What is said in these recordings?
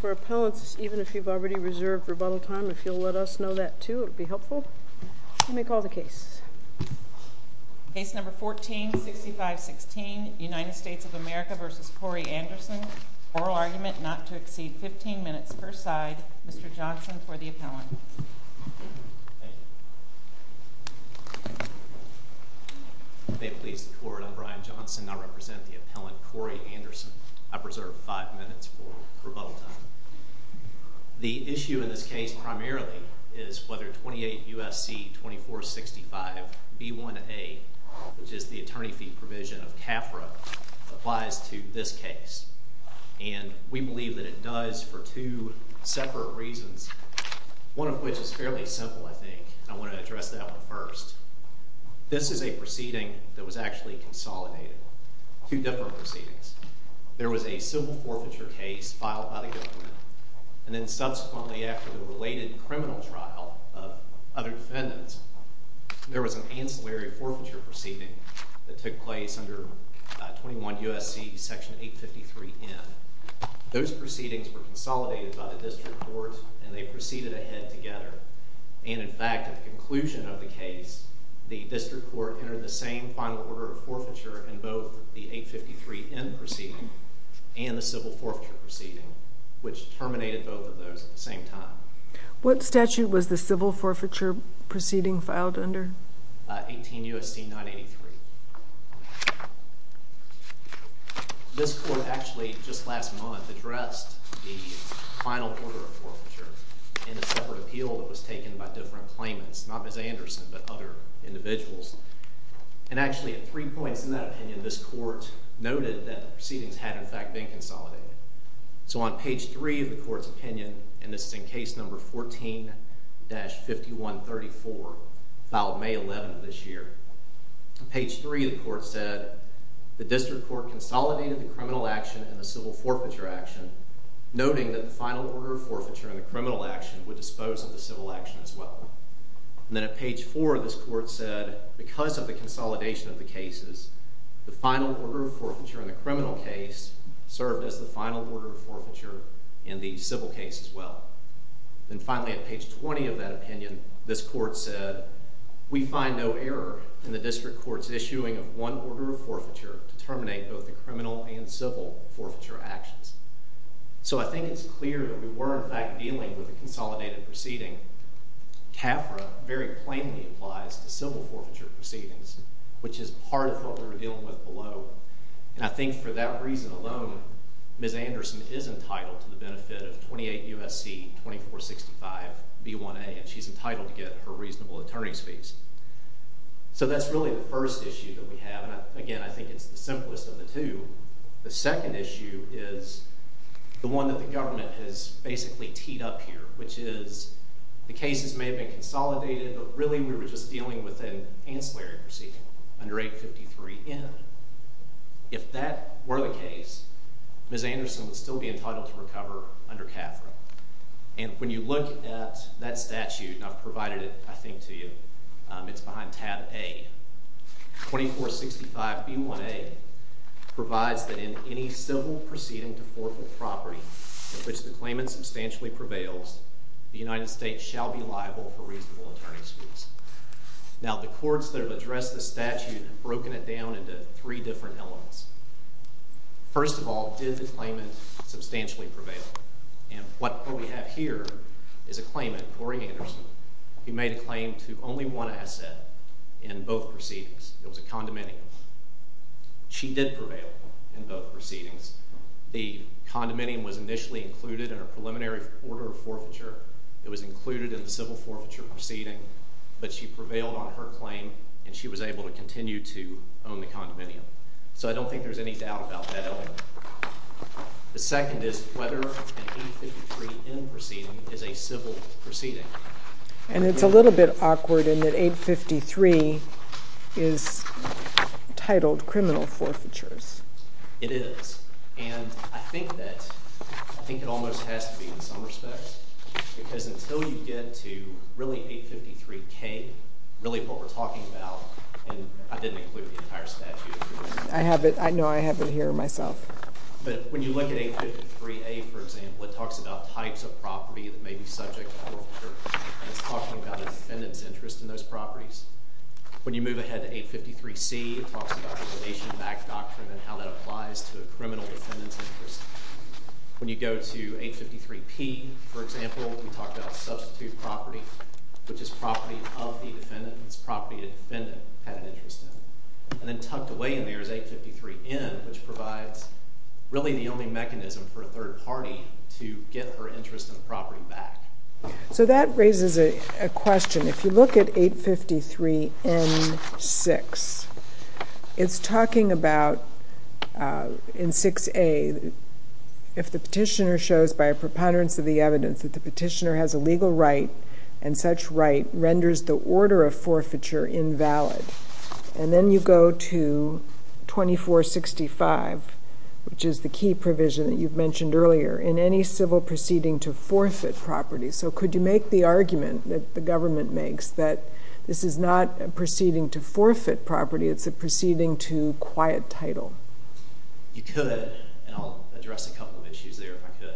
For appellants, even if you've already reserved rebuttal time, if you'll let us know that too, it would be helpful. You may call the case. Case number 146516, United States of America v. Corrie Anderson. Oral argument not to exceed 15 minutes per side. Mr. Johnson for the appellant. Thank you. May it please the court, I'm Brian Johnson and I represent the appellant Corrie Anderson. I preserve 5 minutes for rebuttal time. The issue in this case primarily is whether 28 U.S.C. 2465 B1A, which is the attorney fee provision of CAFRA, applies to this case. And we believe that it does for two separate reasons, one of which is fairly simple, I think. I want to address that one first. This is a proceeding that was actually consolidated. Two different proceedings. There was a civil forfeiture case filed by the government. And then subsequently after the related criminal trial of other defendants, there was an ancillary forfeiture proceeding that took place under 21 U.S.C. section 853N. Those proceedings were consolidated by the district court and they proceeded ahead together. And in fact, at the conclusion of the case, the district court entered the same final order of forfeiture in both the 853N proceeding and the civil forfeiture proceeding, which terminated both of those at the same time. What statute was the civil forfeiture proceeding filed under? 18 U.S.C. 983. This court actually just last month addressed the final order of forfeiture in a separate appeal that was taken by different claimants, not Ms. Anderson, but other individuals. And actually at three points in that opinion, this court noted that the proceedings had in fact been consolidated. So on page three of the court's opinion, and this is in case number 14-5134, filed May 11th of this year, on page three the court said the district court consolidated the criminal action and the civil forfeiture action, noting that the final order of forfeiture in the criminal action would dispose of the civil action as well. And then at page four this court said because of the consolidation of the cases, the final order of forfeiture in the criminal case served as the final order of forfeiture in the civil case as well. And finally at page 20 of that opinion, this court said, we find no error in the district court's issuing of one order of forfeiture to terminate both the criminal and civil forfeiture actions. So I think it's clear that we were in fact dealing with a consolidated proceeding. CAFRA very plainly applies to civil forfeiture proceedings, which is part of what we were dealing with below. And I think for that reason alone, Ms. Anderson is entitled to the benefit of 28 U.S.C. 2465 B1A, and she's entitled to get her reasonable attorney's fees. So that's really the first issue that we have, and again I think it's the simplest of the two. The second issue is the one that the government has basically teed up here, which is the cases may have been consolidated, but really we were just dealing with an ancillary proceeding under 853N. If that were the case, Ms. Anderson would still be entitled to recover under CAFRA. And when you look at that statute, and I've provided it I think to you, it's behind tab A. 2465 B1A provides that in any civil proceeding to forfeit property in which the claimant substantially prevails, the United States shall be liable for reasonable attorney's fees. Now the courts that have addressed this statute have broken it down into three different elements. First of all, did the claimant substantially prevail? And what we have here is a claimant, Corey Anderson, who made a claim to only one asset in both proceedings. It was a condominium. She did prevail in both proceedings. The condominium was initially included in her preliminary order of forfeiture. It was included in the civil forfeiture proceeding, but she prevailed on her claim, and she was able to continue to own the condominium. So I don't think there's any doubt about that element. The second is whether an 853N proceeding is a civil proceeding. And it's a little bit awkward in that 853 is titled criminal forfeitures. It is, and I think that it almost has to be in some respects, because until you get to really 853K, really what we're talking about, and I didn't include the entire statute. I have it. I know I have it here myself. But when you look at 853A, for example, it talks about types of property that may be subject to forfeiture, and it's talking about a defendant's interest in those properties. When you move ahead to 853C, it talks about the probation back doctrine and how that applies to a criminal defendant's interest. When you go to 853P, for example, we talk about substitute property, which is property of the defendant. It's property the defendant had an interest in. And then tucked away in there is 853N, which provides really the only mechanism for a third party to get her interest in the property back. So that raises a question. If you look at 853N6, it's talking about in 6A, if the petitioner shows by a preponderance of the evidence that the petitioner has a legal right and such right renders the order of forfeiture invalid. And then you go to 2465, which is the key provision that you've mentioned earlier, in any civil proceeding to forfeit property. So could you make the argument that the government makes that this is not a proceeding to forfeit property, it's a proceeding to quiet title? You could, and I'll address a couple of issues there if I could.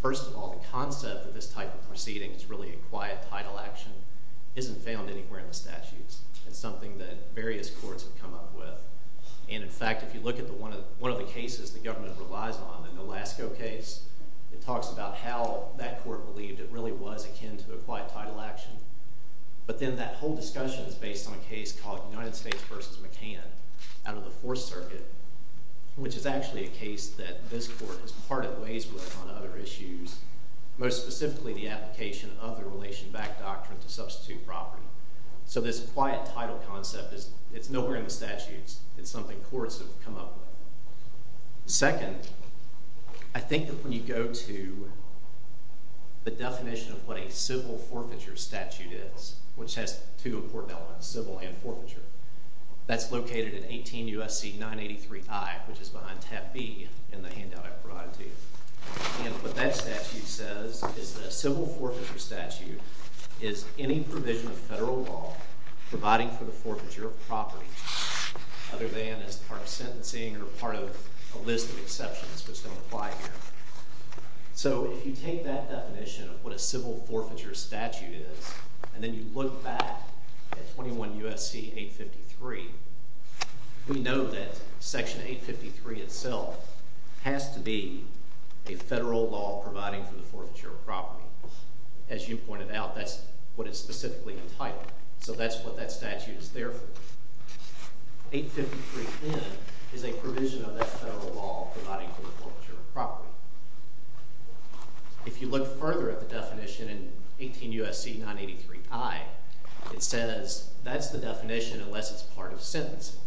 First of all, the concept of this type of proceeding that's really a quiet title action isn't found anywhere in the statutes. It's something that various courts have come up with. And in fact, if you look at one of the cases the government relies on, an Alaska case, it talks about how that court believed it really was akin to a quiet title action. But then that whole discussion is based on a case called United States v. McCann out of the Fourth Circuit, which is actually a case that this court is parted ways with on other issues, most specifically the application of the relation-backed doctrine to substitute property. So this quiet title concept, it's nowhere in the statutes. It's something courts have come up with. Second, I think that when you go to the definition of what a civil forfeiture statute is, which has two important elements, civil and forfeiture, that's located in 18 U.S.C. 983i, which is behind tab B in the handout I provided to you. And what that statute says is that a civil forfeiture statute is any provision of federal law providing for the forfeiture of property, other than as part of sentencing or part of a list of exceptions, which don't apply here. So if you take that definition of what a civil forfeiture statute is, and then you look back at 21 U.S.C. 853, we know that Section 853 itself has to be a federal law providing for the forfeiture of property. As you pointed out, that's what it's specifically entitled. So that's what that statute is there for. 853n is a provision of that federal law providing for the forfeiture of property. If you look further at the definition in 18 U.S.C. 983i, it says that's the definition unless it's part of sentencing.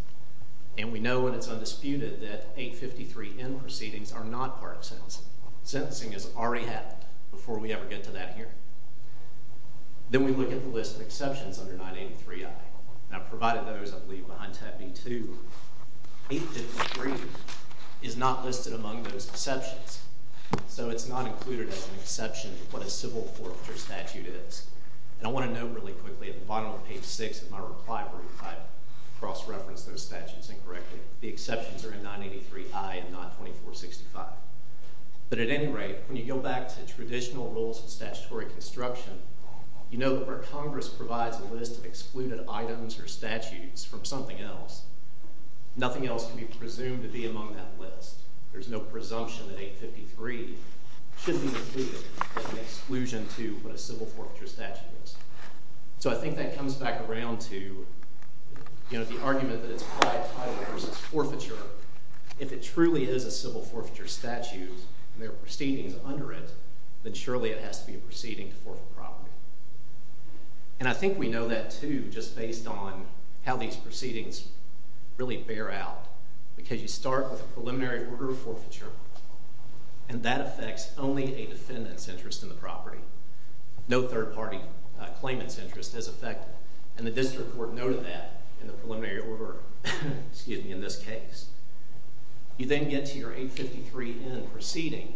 And we know, and it's undisputed, that 853n proceedings are not part of sentencing. Sentencing has already happened before we ever get to that here. Then we look at the list of exceptions under 983i. And I've provided those, I believe, behind tab B-2. 853 is not listed among those exceptions. So it's not included as an exception of what a civil forfeiture statute is. And I want to note really quickly at the bottom of page 6 of my reply brief that I've cross-referenced those statutes incorrectly. The exceptions are in 983i and not 2465. But at any rate, when you go back to traditional rules of statutory construction, you know that where Congress provides a list of excluded items or statutes from something else, nothing else can be presumed to be among that list. There's no presumption that 853 should be included as an exclusion to what a civil forfeiture statute is. So I think that comes back around to, you know, the argument that it's prior title versus forfeiture. If it truly is a civil forfeiture statute and there are proceedings under it, then surely it has to be a proceeding to forfeit property. And I think we know that, too, just based on how these proceedings really bear out. Because you start with a preliminary order of forfeiture, and that affects only a defendant's interest in the property. No third-party claimant's interest is affected. And the district court noted that in the preliminary order, excuse me, in this case. You then get to your 853N proceeding,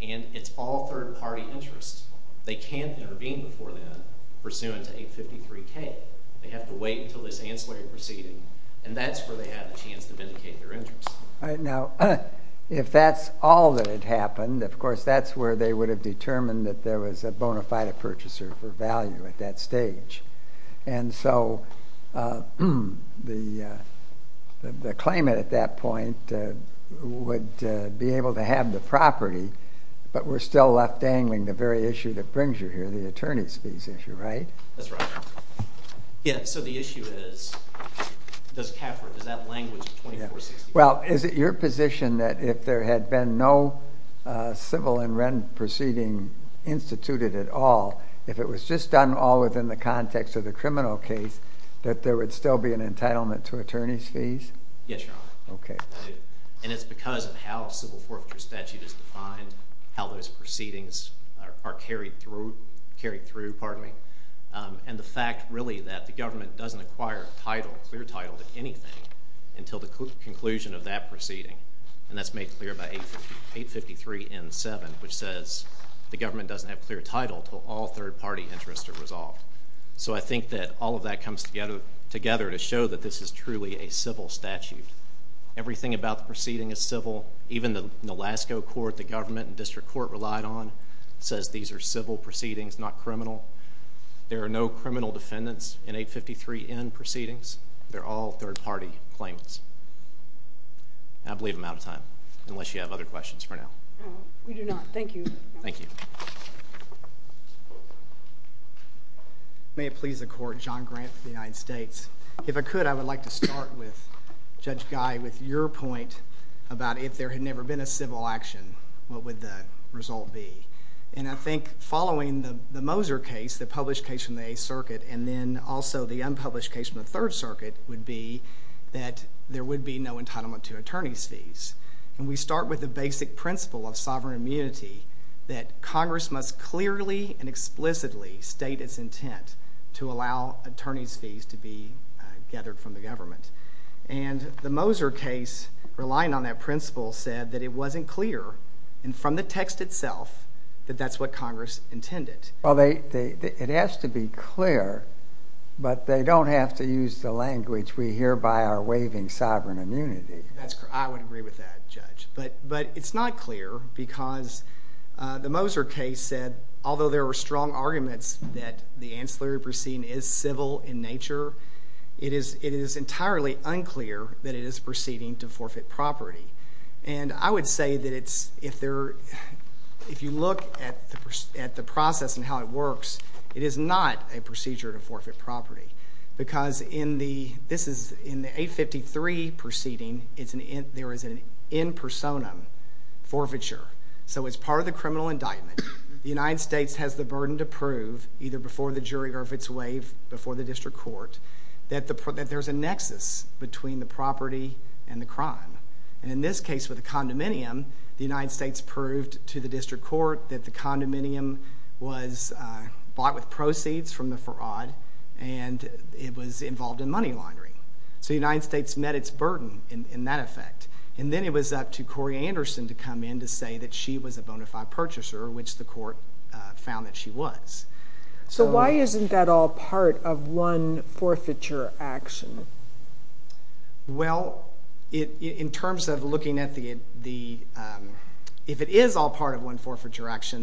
and it's all third-party interests. They can't intervene before then pursuant to 853K. They have to wait until this ancillary proceeding, and that's where they have a chance to vindicate their interest. All right, now, if that's all that had happened, of course, that's where they would have determined that there was a bona fide purchaser for value at that stage. And so the claimant at that point would be able to have the property, but we're still left dangling the very issue that brings you here, the attorney's fees issue, right? That's right. Yeah, so the issue is, does CAFR, does that language 2465... Well, is it your position that if there had been no civil and rent proceeding instituted at all, if it was just done all within the context of the criminal case, that there would still be an entitlement to attorney's fees? Yes, Your Honor. Okay. And it's because of how civil forfeiture statute is defined, how those proceedings are carried through, and the fact, really, that the government doesn't acquire a clear title to anything until the conclusion of that proceeding. And that's made clear by 853 N. 7, which says the government doesn't have clear title until all third-party interests are resolved. So I think that all of that comes together to show that this is truly a civil statute. Everything about the proceeding is civil. Even the Alaska court, the government and district court relied on, says these are civil proceedings, not criminal. There are no criminal defendants in 853 N. proceedings. They're all third-party claims. And I believe I'm out of time, unless you have other questions for now. No, we do not. Thank you. Thank you. May it please the Court, John Grant for the United States. If I could, I would like to start with Judge Guy with your point about if there had never been a civil action, what would the result be? And I think following the Moser case, the published case from the Eighth Circuit, and then also the unpublished case from the Third Circuit, would be that there would be no entitlement to attorney's fees. And we start with the basic principle of sovereign immunity that Congress must clearly and explicitly state its intent to allow attorney's fees to be gathered from the government. And the Moser case, relying on that principle, said that it wasn't clear, and from the text itself, that that's what Congress intended. Well, it has to be clear, but they don't have to use the language we hear by our waving sovereign immunity. That's correct. I would agree with that, Judge. But it's not clear because the Moser case said, although there were strong arguments that the ancillary proceeding is civil in nature, it is entirely unclear that it is proceeding to forfeit property. It is not a procedure to forfeit property because in the 853 proceeding, there is an in personam forfeiture. So as part of the criminal indictment, the United States has the burden to prove, either before the jury or if it's waived before the district court, that there's a nexus between the property and the crime. And in this case with the condominium, the United States proved to the district court that the condominium was bought with proceeds from the fraud and it was involved in money laundering. So the United States met its burden in that effect. And then it was up to Cori Anderson to come in to say that she was a bona fide purchaser, which the court found that she was. So why isn't that all part of one forfeiture action? Well, in terms of looking at the...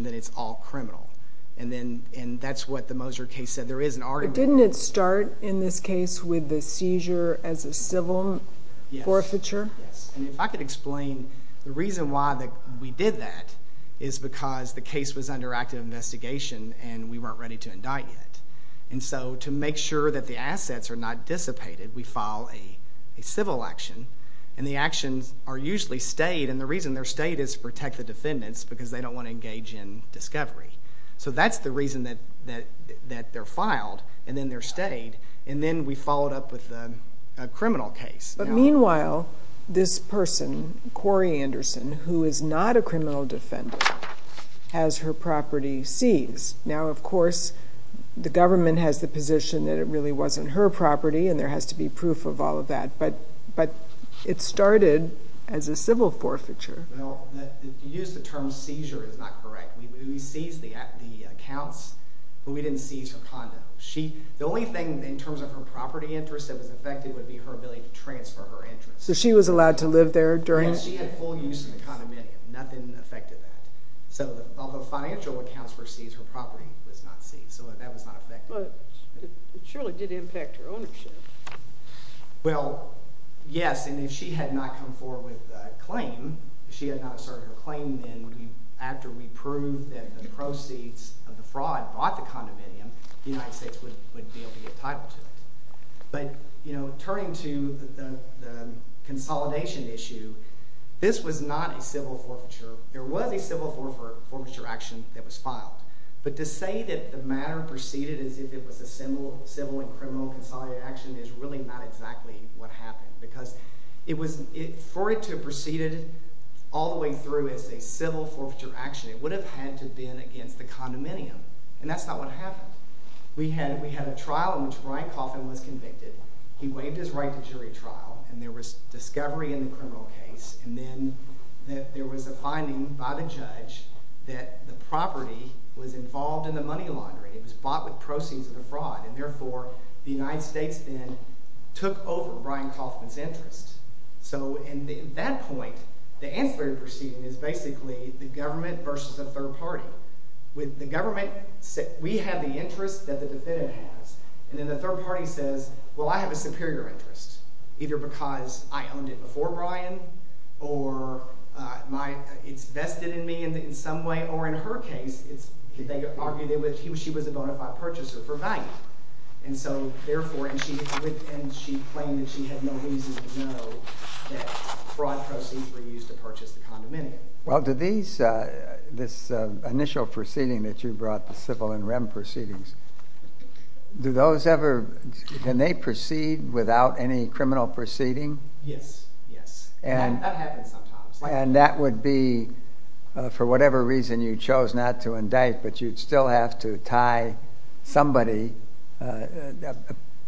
that it's all criminal. And that's what the Moser case said. There is an argument... But didn't it start in this case with the seizure as a civil forfeiture? Yes. And if I could explain the reason why we did that is because the case was under active investigation and we weren't ready to indict yet. And so to make sure that the assets are not dissipated, we file a civil action. And the actions are usually stayed. And the reason they're stayed is to protect the defendants because they don't want to engage in discovery. So that's the reason that they're filed and then they're stayed. And then we followed up with a criminal case. But meanwhile, this person, Cori Anderson, who is not a criminal defendant, has her property seized. Now, of course, the government has the position that it really wasn't her property and there has to be proof of all of that. But it started as a civil forfeiture. Well, to use the term seizure is not correct. We seized the accounts, but we didn't seize her condo. The only thing in terms of her property interest that was affected would be her ability to transfer her interest. So she was allowed to live there during... No, she had full use of the condominium. Nothing affected that. So all the financial accounts were seized. Her property was not seized. So that was not affected. But it surely did impact her ownership. Well, yes. And if she had not come forward with a claim, if she had not asserted her claim, then after we proved that the proceeds of the fraud bought the condominium, the United States would be able to get title to it. But, you know, turning to the consolidation issue, this was not a civil forfeiture. There was a civil forfeiture action that was filed. But to say that the matter proceeded as if it was a civil and criminal consolidated action is really not exactly what happened because for it to have proceeded all the way through as a civil forfeiture action, it would have had to have been against the condominium, and that's not what happened. We had a trial in which Brian Coffman was convicted. He waived his right to jury trial, and there was discovery in the criminal case, and then there was a finding by the judge that the property was involved in the money laundering. It was bought with proceeds of the fraud, and therefore the United States then took over Brian Coffman's interest. So at that point, the ancillary proceeding is basically the government versus a third party. With the government, we have the interest that the defendant has, and then the third party says, well, I have a superior interest, either because I owned it before Brian or it's vested in me in some way, or in her case, they argued that she was a bona fide purchaser for value. And so therefore, and she claimed that she had no reason to know that fraud proceeds were used to purchase the condominium. Well, do these, this initial proceeding that you brought, the civil and rem proceedings, do those ever, can they proceed without any criminal proceeding? Yes, yes. That happens sometimes. And that would be, for whatever reason, you chose not to indict, but you'd still have to tie somebody, a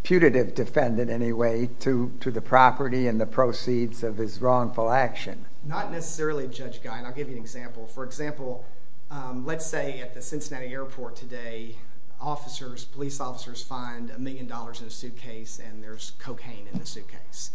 putative defendant anyway, to the property and the proceeds of his wrongful action. Not necessarily, Judge Guy, and I'll give you an example. For example, let's say at the Cincinnati airport today, officers, police officers find a million dollars in a suitcase and there's cocaine in the suitcase.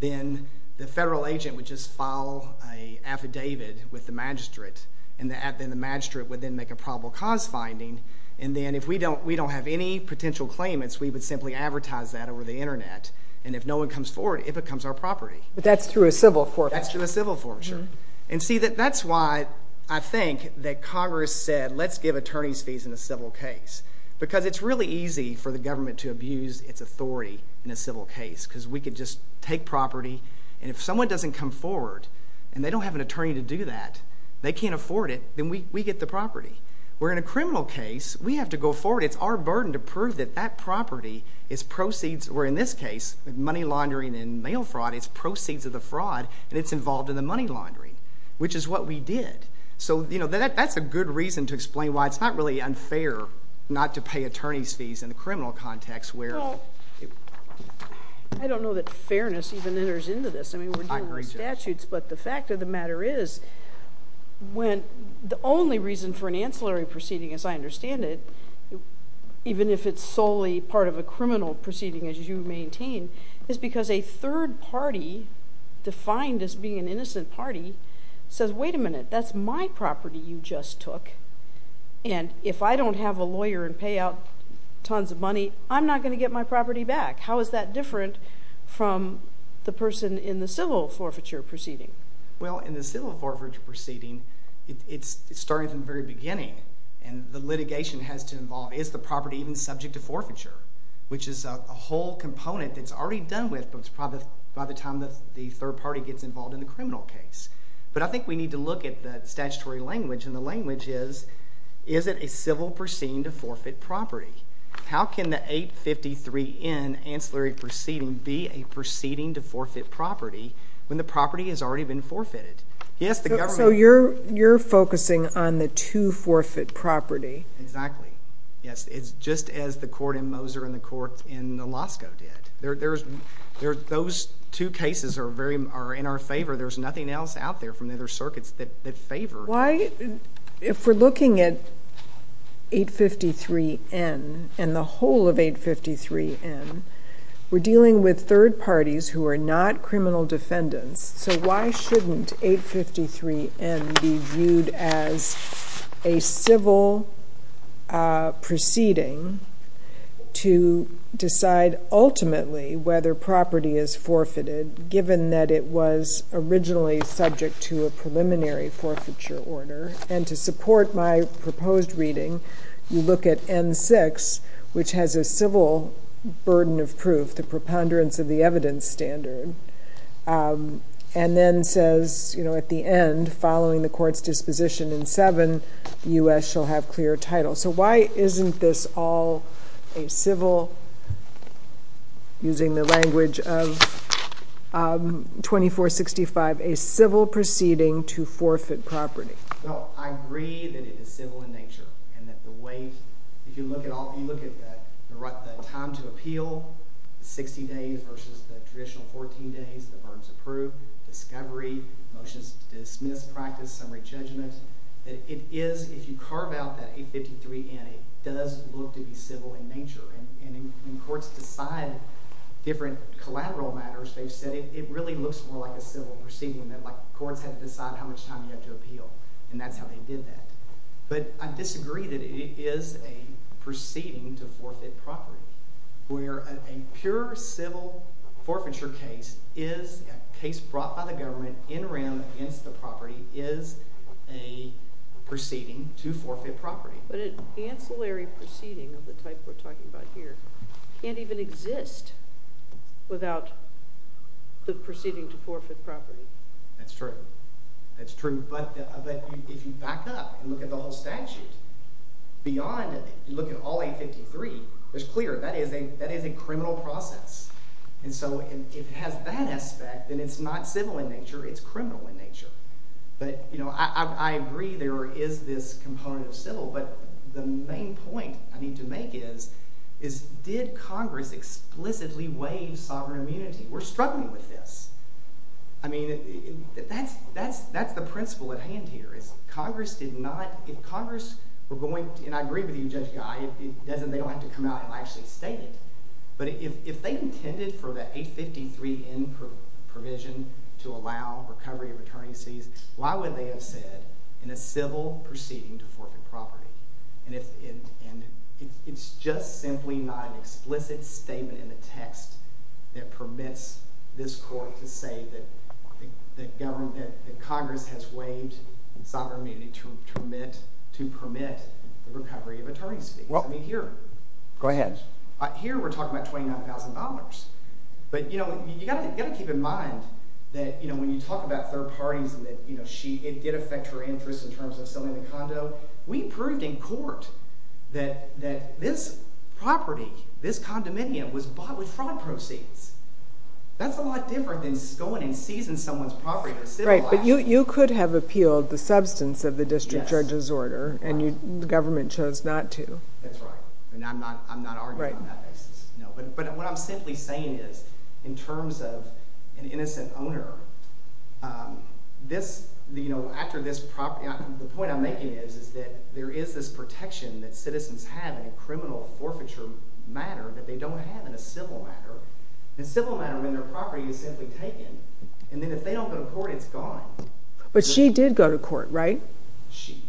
Then the federal agent would just file an affidavit with the magistrate, and then the magistrate would then make a probable cause finding, and then if we don't have any potential claimants, we would simply advertise that over the Internet. And if no one comes forward, it becomes our property. But that's through a civil forfeiture. That's through a civil forfeiture. And see, that's why I think that Congress said, let's give attorneys fees in a civil case. Because it's really easy for the government to abuse its authority in a civil case, because we could just take property, and if someone doesn't come forward, and they don't have an attorney to do that, they can't afford it, then we get the property. Where in a criminal case, we have to go forward. It's our burden to prove that that property is proceeds, or in this case, money laundering and mail fraud, it's proceeds of the fraud, and it's involved in the money laundering, which is what we did. So that's a good reason to explain why it's not really unfair not to pay attorneys fees in a criminal context where... Well, I don't know that fairness even enters into this. I mean, we're dealing with statutes. But the fact of the matter is, when the only reason for an ancillary proceeding, as I understand it, even if it's solely part of a criminal proceeding, as you maintain, is because a third party, defined as being an innocent party, says, wait a minute, that's my property you just took, and if I don't have a lawyer and pay out tons of money, I'm not going to get my property back. How is that different from the person in the civil forfeiture proceeding? Well, in the civil forfeiture proceeding, it's starting from the very beginning, and the litigation has to involve, is the property even subject to forfeiture, which is a whole component that's already done with by the time the third party gets involved in the criminal case. But I think we need to look at the statutory language, and the language is, is it a civil proceeding to forfeit property? How can the 853N ancillary proceeding be a proceeding to forfeit property when the property has already been forfeited? So you're focusing on the two forfeit property. Exactly. Yes, it's just as the court in Moser and the court in Losko did. Those two cases are in our favor. There's nothing else out there from the other circuits that favor. Why, if we're looking at 853N, and the whole of 853N, we're dealing with third parties who are not criminal defendants, so why shouldn't 853N be viewed as a civil proceeding to decide ultimately whether property is forfeited, given that it was originally subject to a preliminary forfeiture order? And to support my proposed reading, you look at N6, which has a civil burden of proof, the preponderance of the evidence standard, and then says at the end, following the court's disposition in 7, the U.S. shall have clear title. So why isn't this all a civil, using the language of 2465, a civil proceeding to forfeit property? Well, I agree that it is civil in nature, and that the way, if you look at the time to appeal, 60 days versus the traditional 14 days, the burdens of proof, discovery, motions to dismiss, practice, summary judgment, that it is, if you carve out that 853N, it does look to be civil in nature, and when courts decide different collateral matters, they've said it really looks more like a civil proceeding, that courts have to decide how much time you have to appeal, and that's how they did that. But I disagree that it is a proceeding to forfeit property, where a pure civil forfeiture case is a case brought by the government in rem against the property is a proceeding to forfeit property. But an ancillary proceeding of the type we're talking about here can't even exist without the proceeding to forfeit property. That's true. That's true. But if you back up and look at the whole statute, beyond, if you look at all 853, it's clear that is a criminal process. And so if it has that aspect, then it's not civil in nature, it's criminal in nature. But I agree there is this component of civil, but the main point I need to make is, did Congress explicitly waive sovereign immunity? We're struggling with this. I mean, that's the principle at hand here. Congress did not... And I agree with you, Judge Guy, they don't have to come out and actually state it, but if they intended for the 853N provision to allow recovery of attorney's fees, why would they have said in a civil proceeding to forfeit property? And it's just simply not an explicit statement in the text that permits this court to say that Congress has waived sovereign immunity to permit the recovery of attorney's fees. I mean, here... Go ahead. Here we're talking about $29,000. But, you know, you've got to keep in mind that when you talk about third parties and that it did affect her interests in terms of selling the condo, we proved in court that this property, this condominium, was bought with fraud proceeds. That's a lot different than going and seizing someone's property for civil action. Right, but you could have appealed the substance of the district judge's order, and the government chose not to. That's right, and I'm not arguing on that basis, no. But what I'm simply saying is, in terms of an innocent owner, this, you know, after this property... The point I'm making is that there is this protection that citizens have in a criminal forfeiture matter that they don't have in a civil matter. In a civil matter, when their property is simply taken, and then if they don't go to court, it's gone. But she did go to court, right?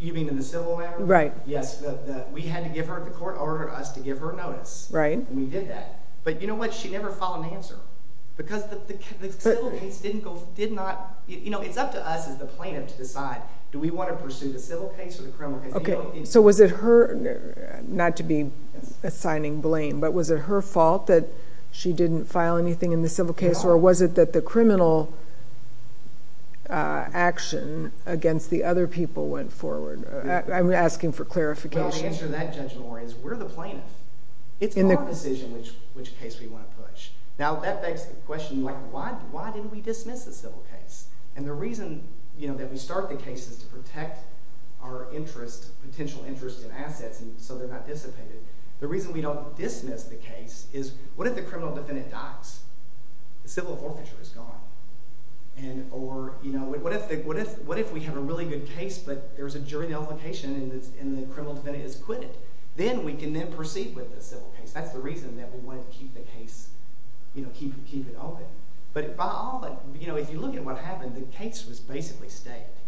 You mean in the civil matter? Right. Yes, we had to give her... The court ordered us to give her notice, and we did that. But you know what? She never filed an answer. Because the civil case did not... You know, it's up to us as the plaintiff to decide, do we want to pursue the civil case or the criminal case? Okay, so was it her... Not to be assigning blame, but was it her fault that she didn't file anything in the civil case, or was it that the criminal action against the other people went forward? I'm asking for clarification. Well, the answer to that, Judge Maureen, is we're the plaintiff. It's our decision which case we want to push. Now, that begs the question, like, why didn't we dismiss the civil case? And the reason, you know, that we start the case is to protect our interest, potential interest in assets, and so they're not dissipated. The reason we don't dismiss the case is, what if the criminal defendant dies? The civil forfeiture is gone. Or, you know, what if we have a really good case, but there's a jury nullification, and the criminal defendant has quit it? Then we can then proceed with the civil case. That's the reason that we wanted to keep the case, you know, keep it open. But by all that, you know, if you look at what happened, the case was basically staked.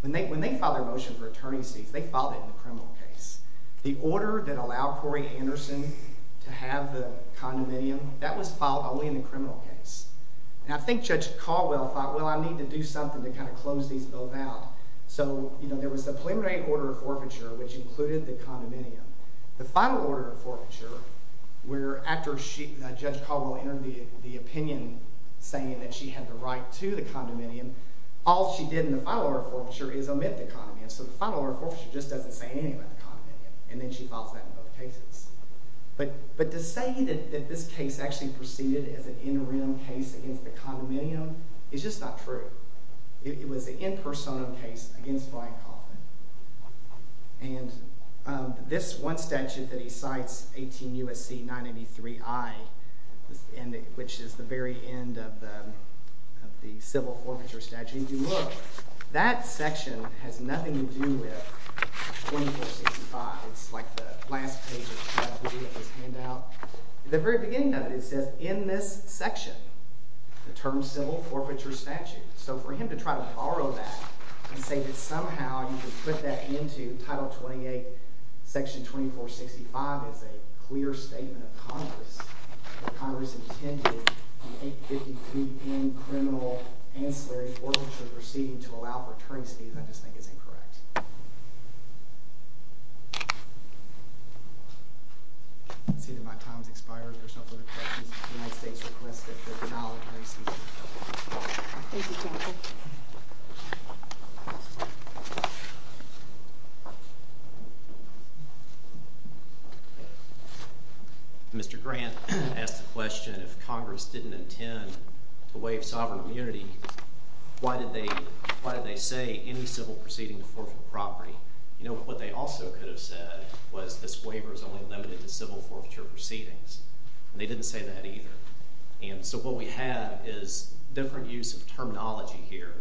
When they filed their motion for attorney's cease, they filed it in the criminal case. The order that allowed Corey Anderson to have the condominium, that was filed only in the criminal case. And I think Judge Caldwell thought, well, I need to do something to kind of close these both out. So, you know, there was the preliminary order of forfeiture, which included the condominium. The final order of forfeiture, where after Judge Caldwell entered the opinion saying that she had the right to the condominium, all she did in the final order of forfeiture is omit the condominium. So the final order of forfeiture just doesn't say anything about the condominium. And then she files that in both cases. But to say that this case actually proceeded as an interim case against the condominium is just not true. It was an in-persona case against Flying Coffin. And this one statute that he cites, 18 U.S.C. 983i, which is the very end of the civil forfeiture statute, if you look, that section has nothing to do with 14465. It's like the last page of his handout. At the very beginning of it, it says, in this section, the term civil forfeiture statute. So for him to try to borrow that and say that somehow you can put that into Title 28, Section 2465 is a clear statement of Congress, that Congress intended the 853N criminal ancillary forfeiture proceeding to allow for attorneys to use, I just think it's incorrect. I can see that my time has expired. There's no further questions. The United States requested the denial of the receipt. Thank you, Captain. Mr. Grant asked the question, if Congress didn't intend to waive sovereign immunity, why did they say any civil proceeding to forfeit property? You know, what they also could have said was this waiver is only limited to civil forfeiture proceedings. And they didn't say that either. And so what we have is different use of terminology here.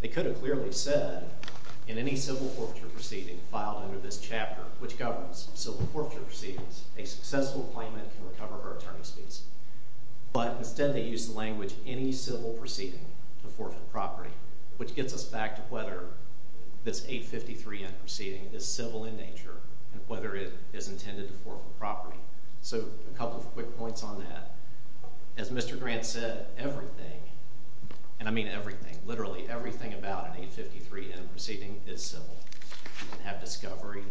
They could have clearly said, in any civil forfeiture proceeding filed under this chapter, which governs civil forfeiture proceedings, a successful claimant can recover her attorney's fees. But instead, they used the language, any civil proceeding to forfeit property, which gets us back to whether this 853N proceeding is civil in nature and whether it is intended to forfeit property. So a couple of quick points on that. As Mr. Grant said, everything, and I mean everything, literally everything about an 853N proceeding is civil. You can have discovery.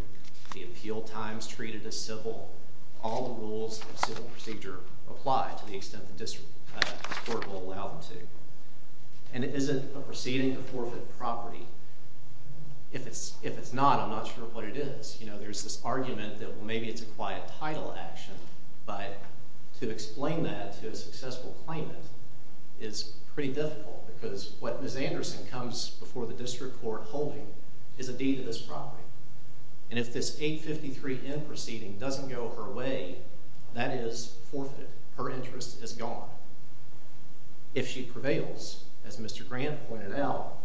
The appeal time is treated as civil. All the rules of civil procedure apply to the extent the court will allow them to. And is it a proceeding to forfeit property? If it's not, I'm not sure what it is. There's this argument that maybe it's a quiet title action. But to explain that to a successful claimant is pretty difficult because what Ms. Anderson comes before the district court holding is a deed of this property. And if this 853N proceeding doesn't go her way, that is forfeit. Her interest is gone. If she prevails, as Mr. Grant pointed out,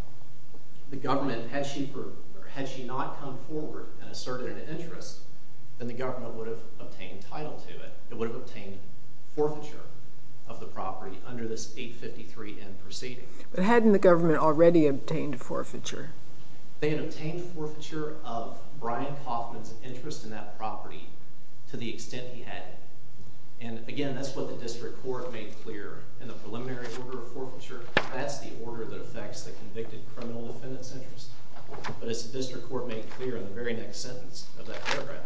the government, had she not come forward and asserted an interest, then the government would have obtained title to it. It would have obtained forfeiture of the property under this 853N proceeding. But hadn't the government already obtained forfeiture? They had obtained forfeiture of Brian Kaufman's interest in that property to the extent he had. And again, that's what the district court made clear in the preliminary order of forfeiture. That's the order that affects the convicted criminal defendant's interest. But as the district court made clear in the very next sentence of that paragraph,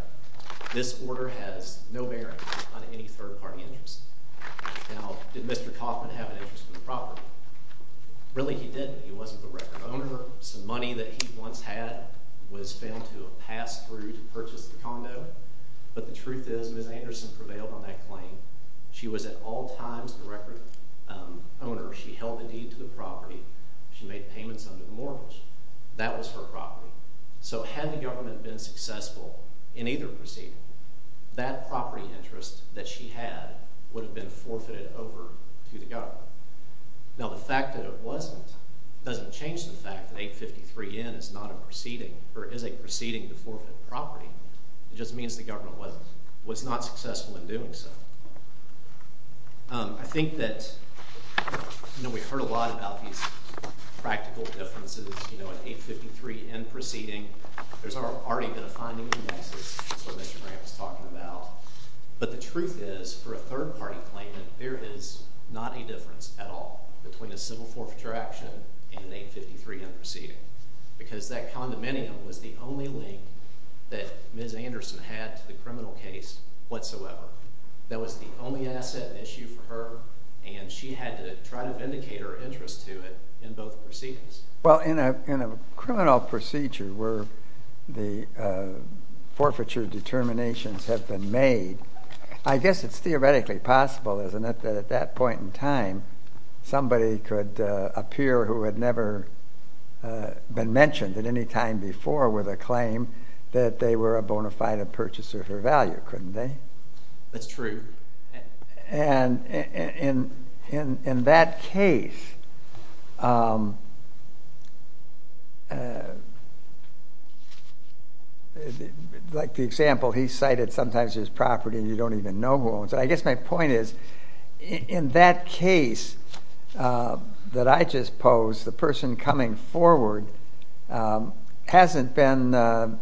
this order has no bearing on any third-party interest. Now, did Mr. Kaufman have an interest in the property? Really, he didn't. He wasn't the record owner. Some money that he once had was found to have passed through to purchase the condo. But the truth is, Ms. Anderson prevailed on that claim. She was at all times the record owner. She held a deed to the property. She made payments under the mortgage. That was her property. So had the government been successful in either proceeding, that property interest that she had would have been forfeited over to the government. Now, the fact that it wasn't doesn't change the fact that 853N is not a proceeding, or is a proceeding to forfeit a property. It just means the government was not successful in doing so. I think that we've heard a lot about these practical differences in 853N proceeding. There's already been a finding indexes. That's what Mr. Grant was talking about. But the truth is, for a third-party claimant, there is not a difference at all between a civil forfeiture action and an 853N proceeding. Because that condominium was the only link that Ms. Anderson had to the criminal case whatsoever. That was the only asset issue for her, and she had to try to vindicate her interest to it in both proceedings. Well, in a criminal procedure where the forfeiture determinations have been made, I guess it's theoretically possible, isn't it, that at that point in time, at any time before with a claim that they were a bona fide purchaser of her value, couldn't they? That's true. Like the example, he cited sometimes his property and you don't even know who owns it. I guess my point is, in that case that I just posed, the person coming forward hasn't been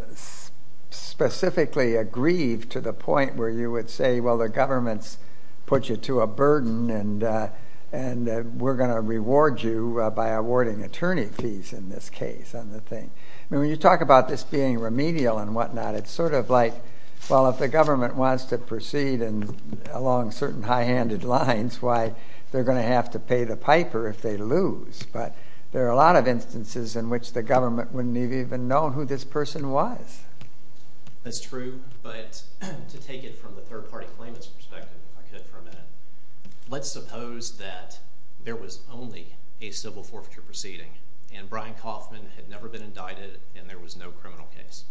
specifically aggrieved to the point where you would say, well, the government's put you to a burden and we're going to reward you by awarding attorney fees in this case. When you talk about this being remedial and whatnot, it's sort of like, well, if the government wants to proceed along certain high-handed lines, why, they're going to have to pay the piper if they lose. But there are a lot of instances in which the government wouldn't have even known who this person was. That's true. But to take it from the third-party claimants' perspective, if I could for a minute, let's suppose that there was only a civil forfeiture proceeding and Brian Kaufman had never been indicted and there was no criminal case.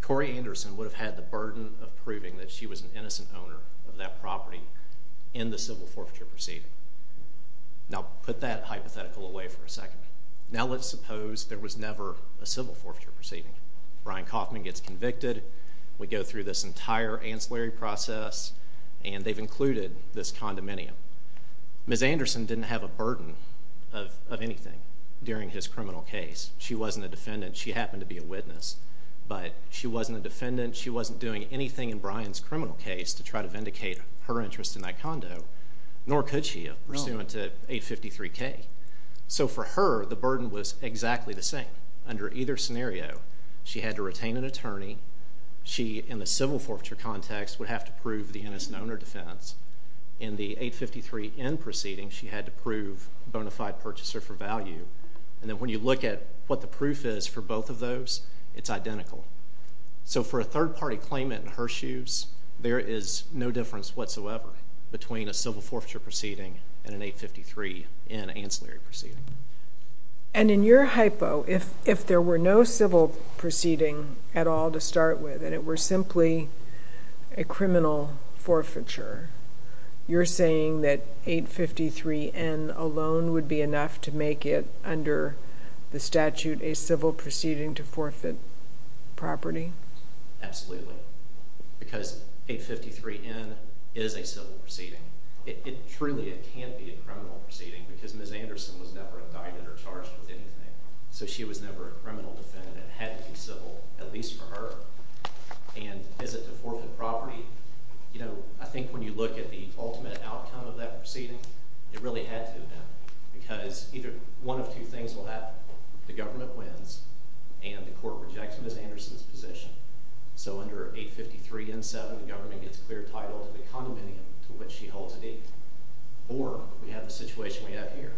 Cori Anderson would have had the burden of proving that she was an innocent owner of that property in the civil forfeiture proceeding. Now, put that hypothetical away for a second. Now let's suppose there was never a civil forfeiture proceeding. Brian Kaufman gets convicted. We go through this entire ancillary process and they've included this condominium. Ms. Anderson didn't have a burden of anything during his criminal case. She wasn't a defendant. She happened to be a witness. But she wasn't a defendant. She wasn't doing anything in Brian's criminal case to try to vindicate her interest in that condo, nor could she have, pursuant to 853K. So for her, the burden was exactly the same. Under either scenario, she had to retain an attorney. She, in the civil forfeiture context, would have to prove the innocent owner defense. In the 853N proceeding, she had to prove bona fide purchaser for value. And then when you look at what the proof is for both of those, it's identical. So for a third-party claimant in her shoes, there is no difference whatsoever between a civil forfeiture proceeding and an 853N ancillary proceeding. And in your hypo, if there were no civil proceeding at all to start with, and it were simply a criminal forfeiture, you're saying that 853N alone would be enough to make it, under the statute, a civil proceeding to forfeit property? Absolutely. Because 853N is a civil proceeding. Truly, it can't be a criminal proceeding, because Ms. Anderson was never indicted or charged with anything. So she was never a criminal defendant. It had to be civil, at least for her. And is it to forfeit property? You know, I think when you look at the ultimate outcome of that proceeding, it really had to have been, because either one of two things will happen. The government wins, and the court rejects Ms. Anderson's position. So under 853N7, the government gets clear title to the condominium to which she holds it in. Or, we have the situation we have here.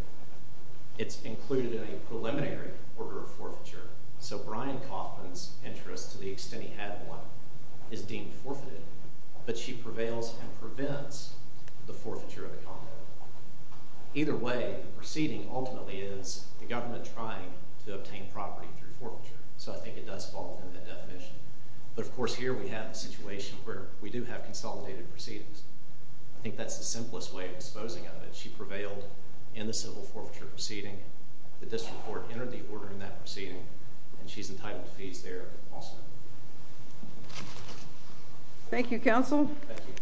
It's included in a preliminary order of forfeiture. So Brian Kaufman's interest, to the extent he had one, is deemed forfeited. But she prevails and prevents the forfeiture of the condominium. Either way, the proceeding ultimately is the government trying to obtain property through forfeiture. So I think it does fall within that definition. But of course, here we have a situation where we do have consolidated proceedings. I think that's the simplest way of exposing it. She prevailed in the civil forfeiture proceeding. The district court entered the order in that proceeding, and she's entitled to fees there also. Thank you, counsel. Thank you.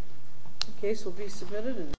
The case will be submitted.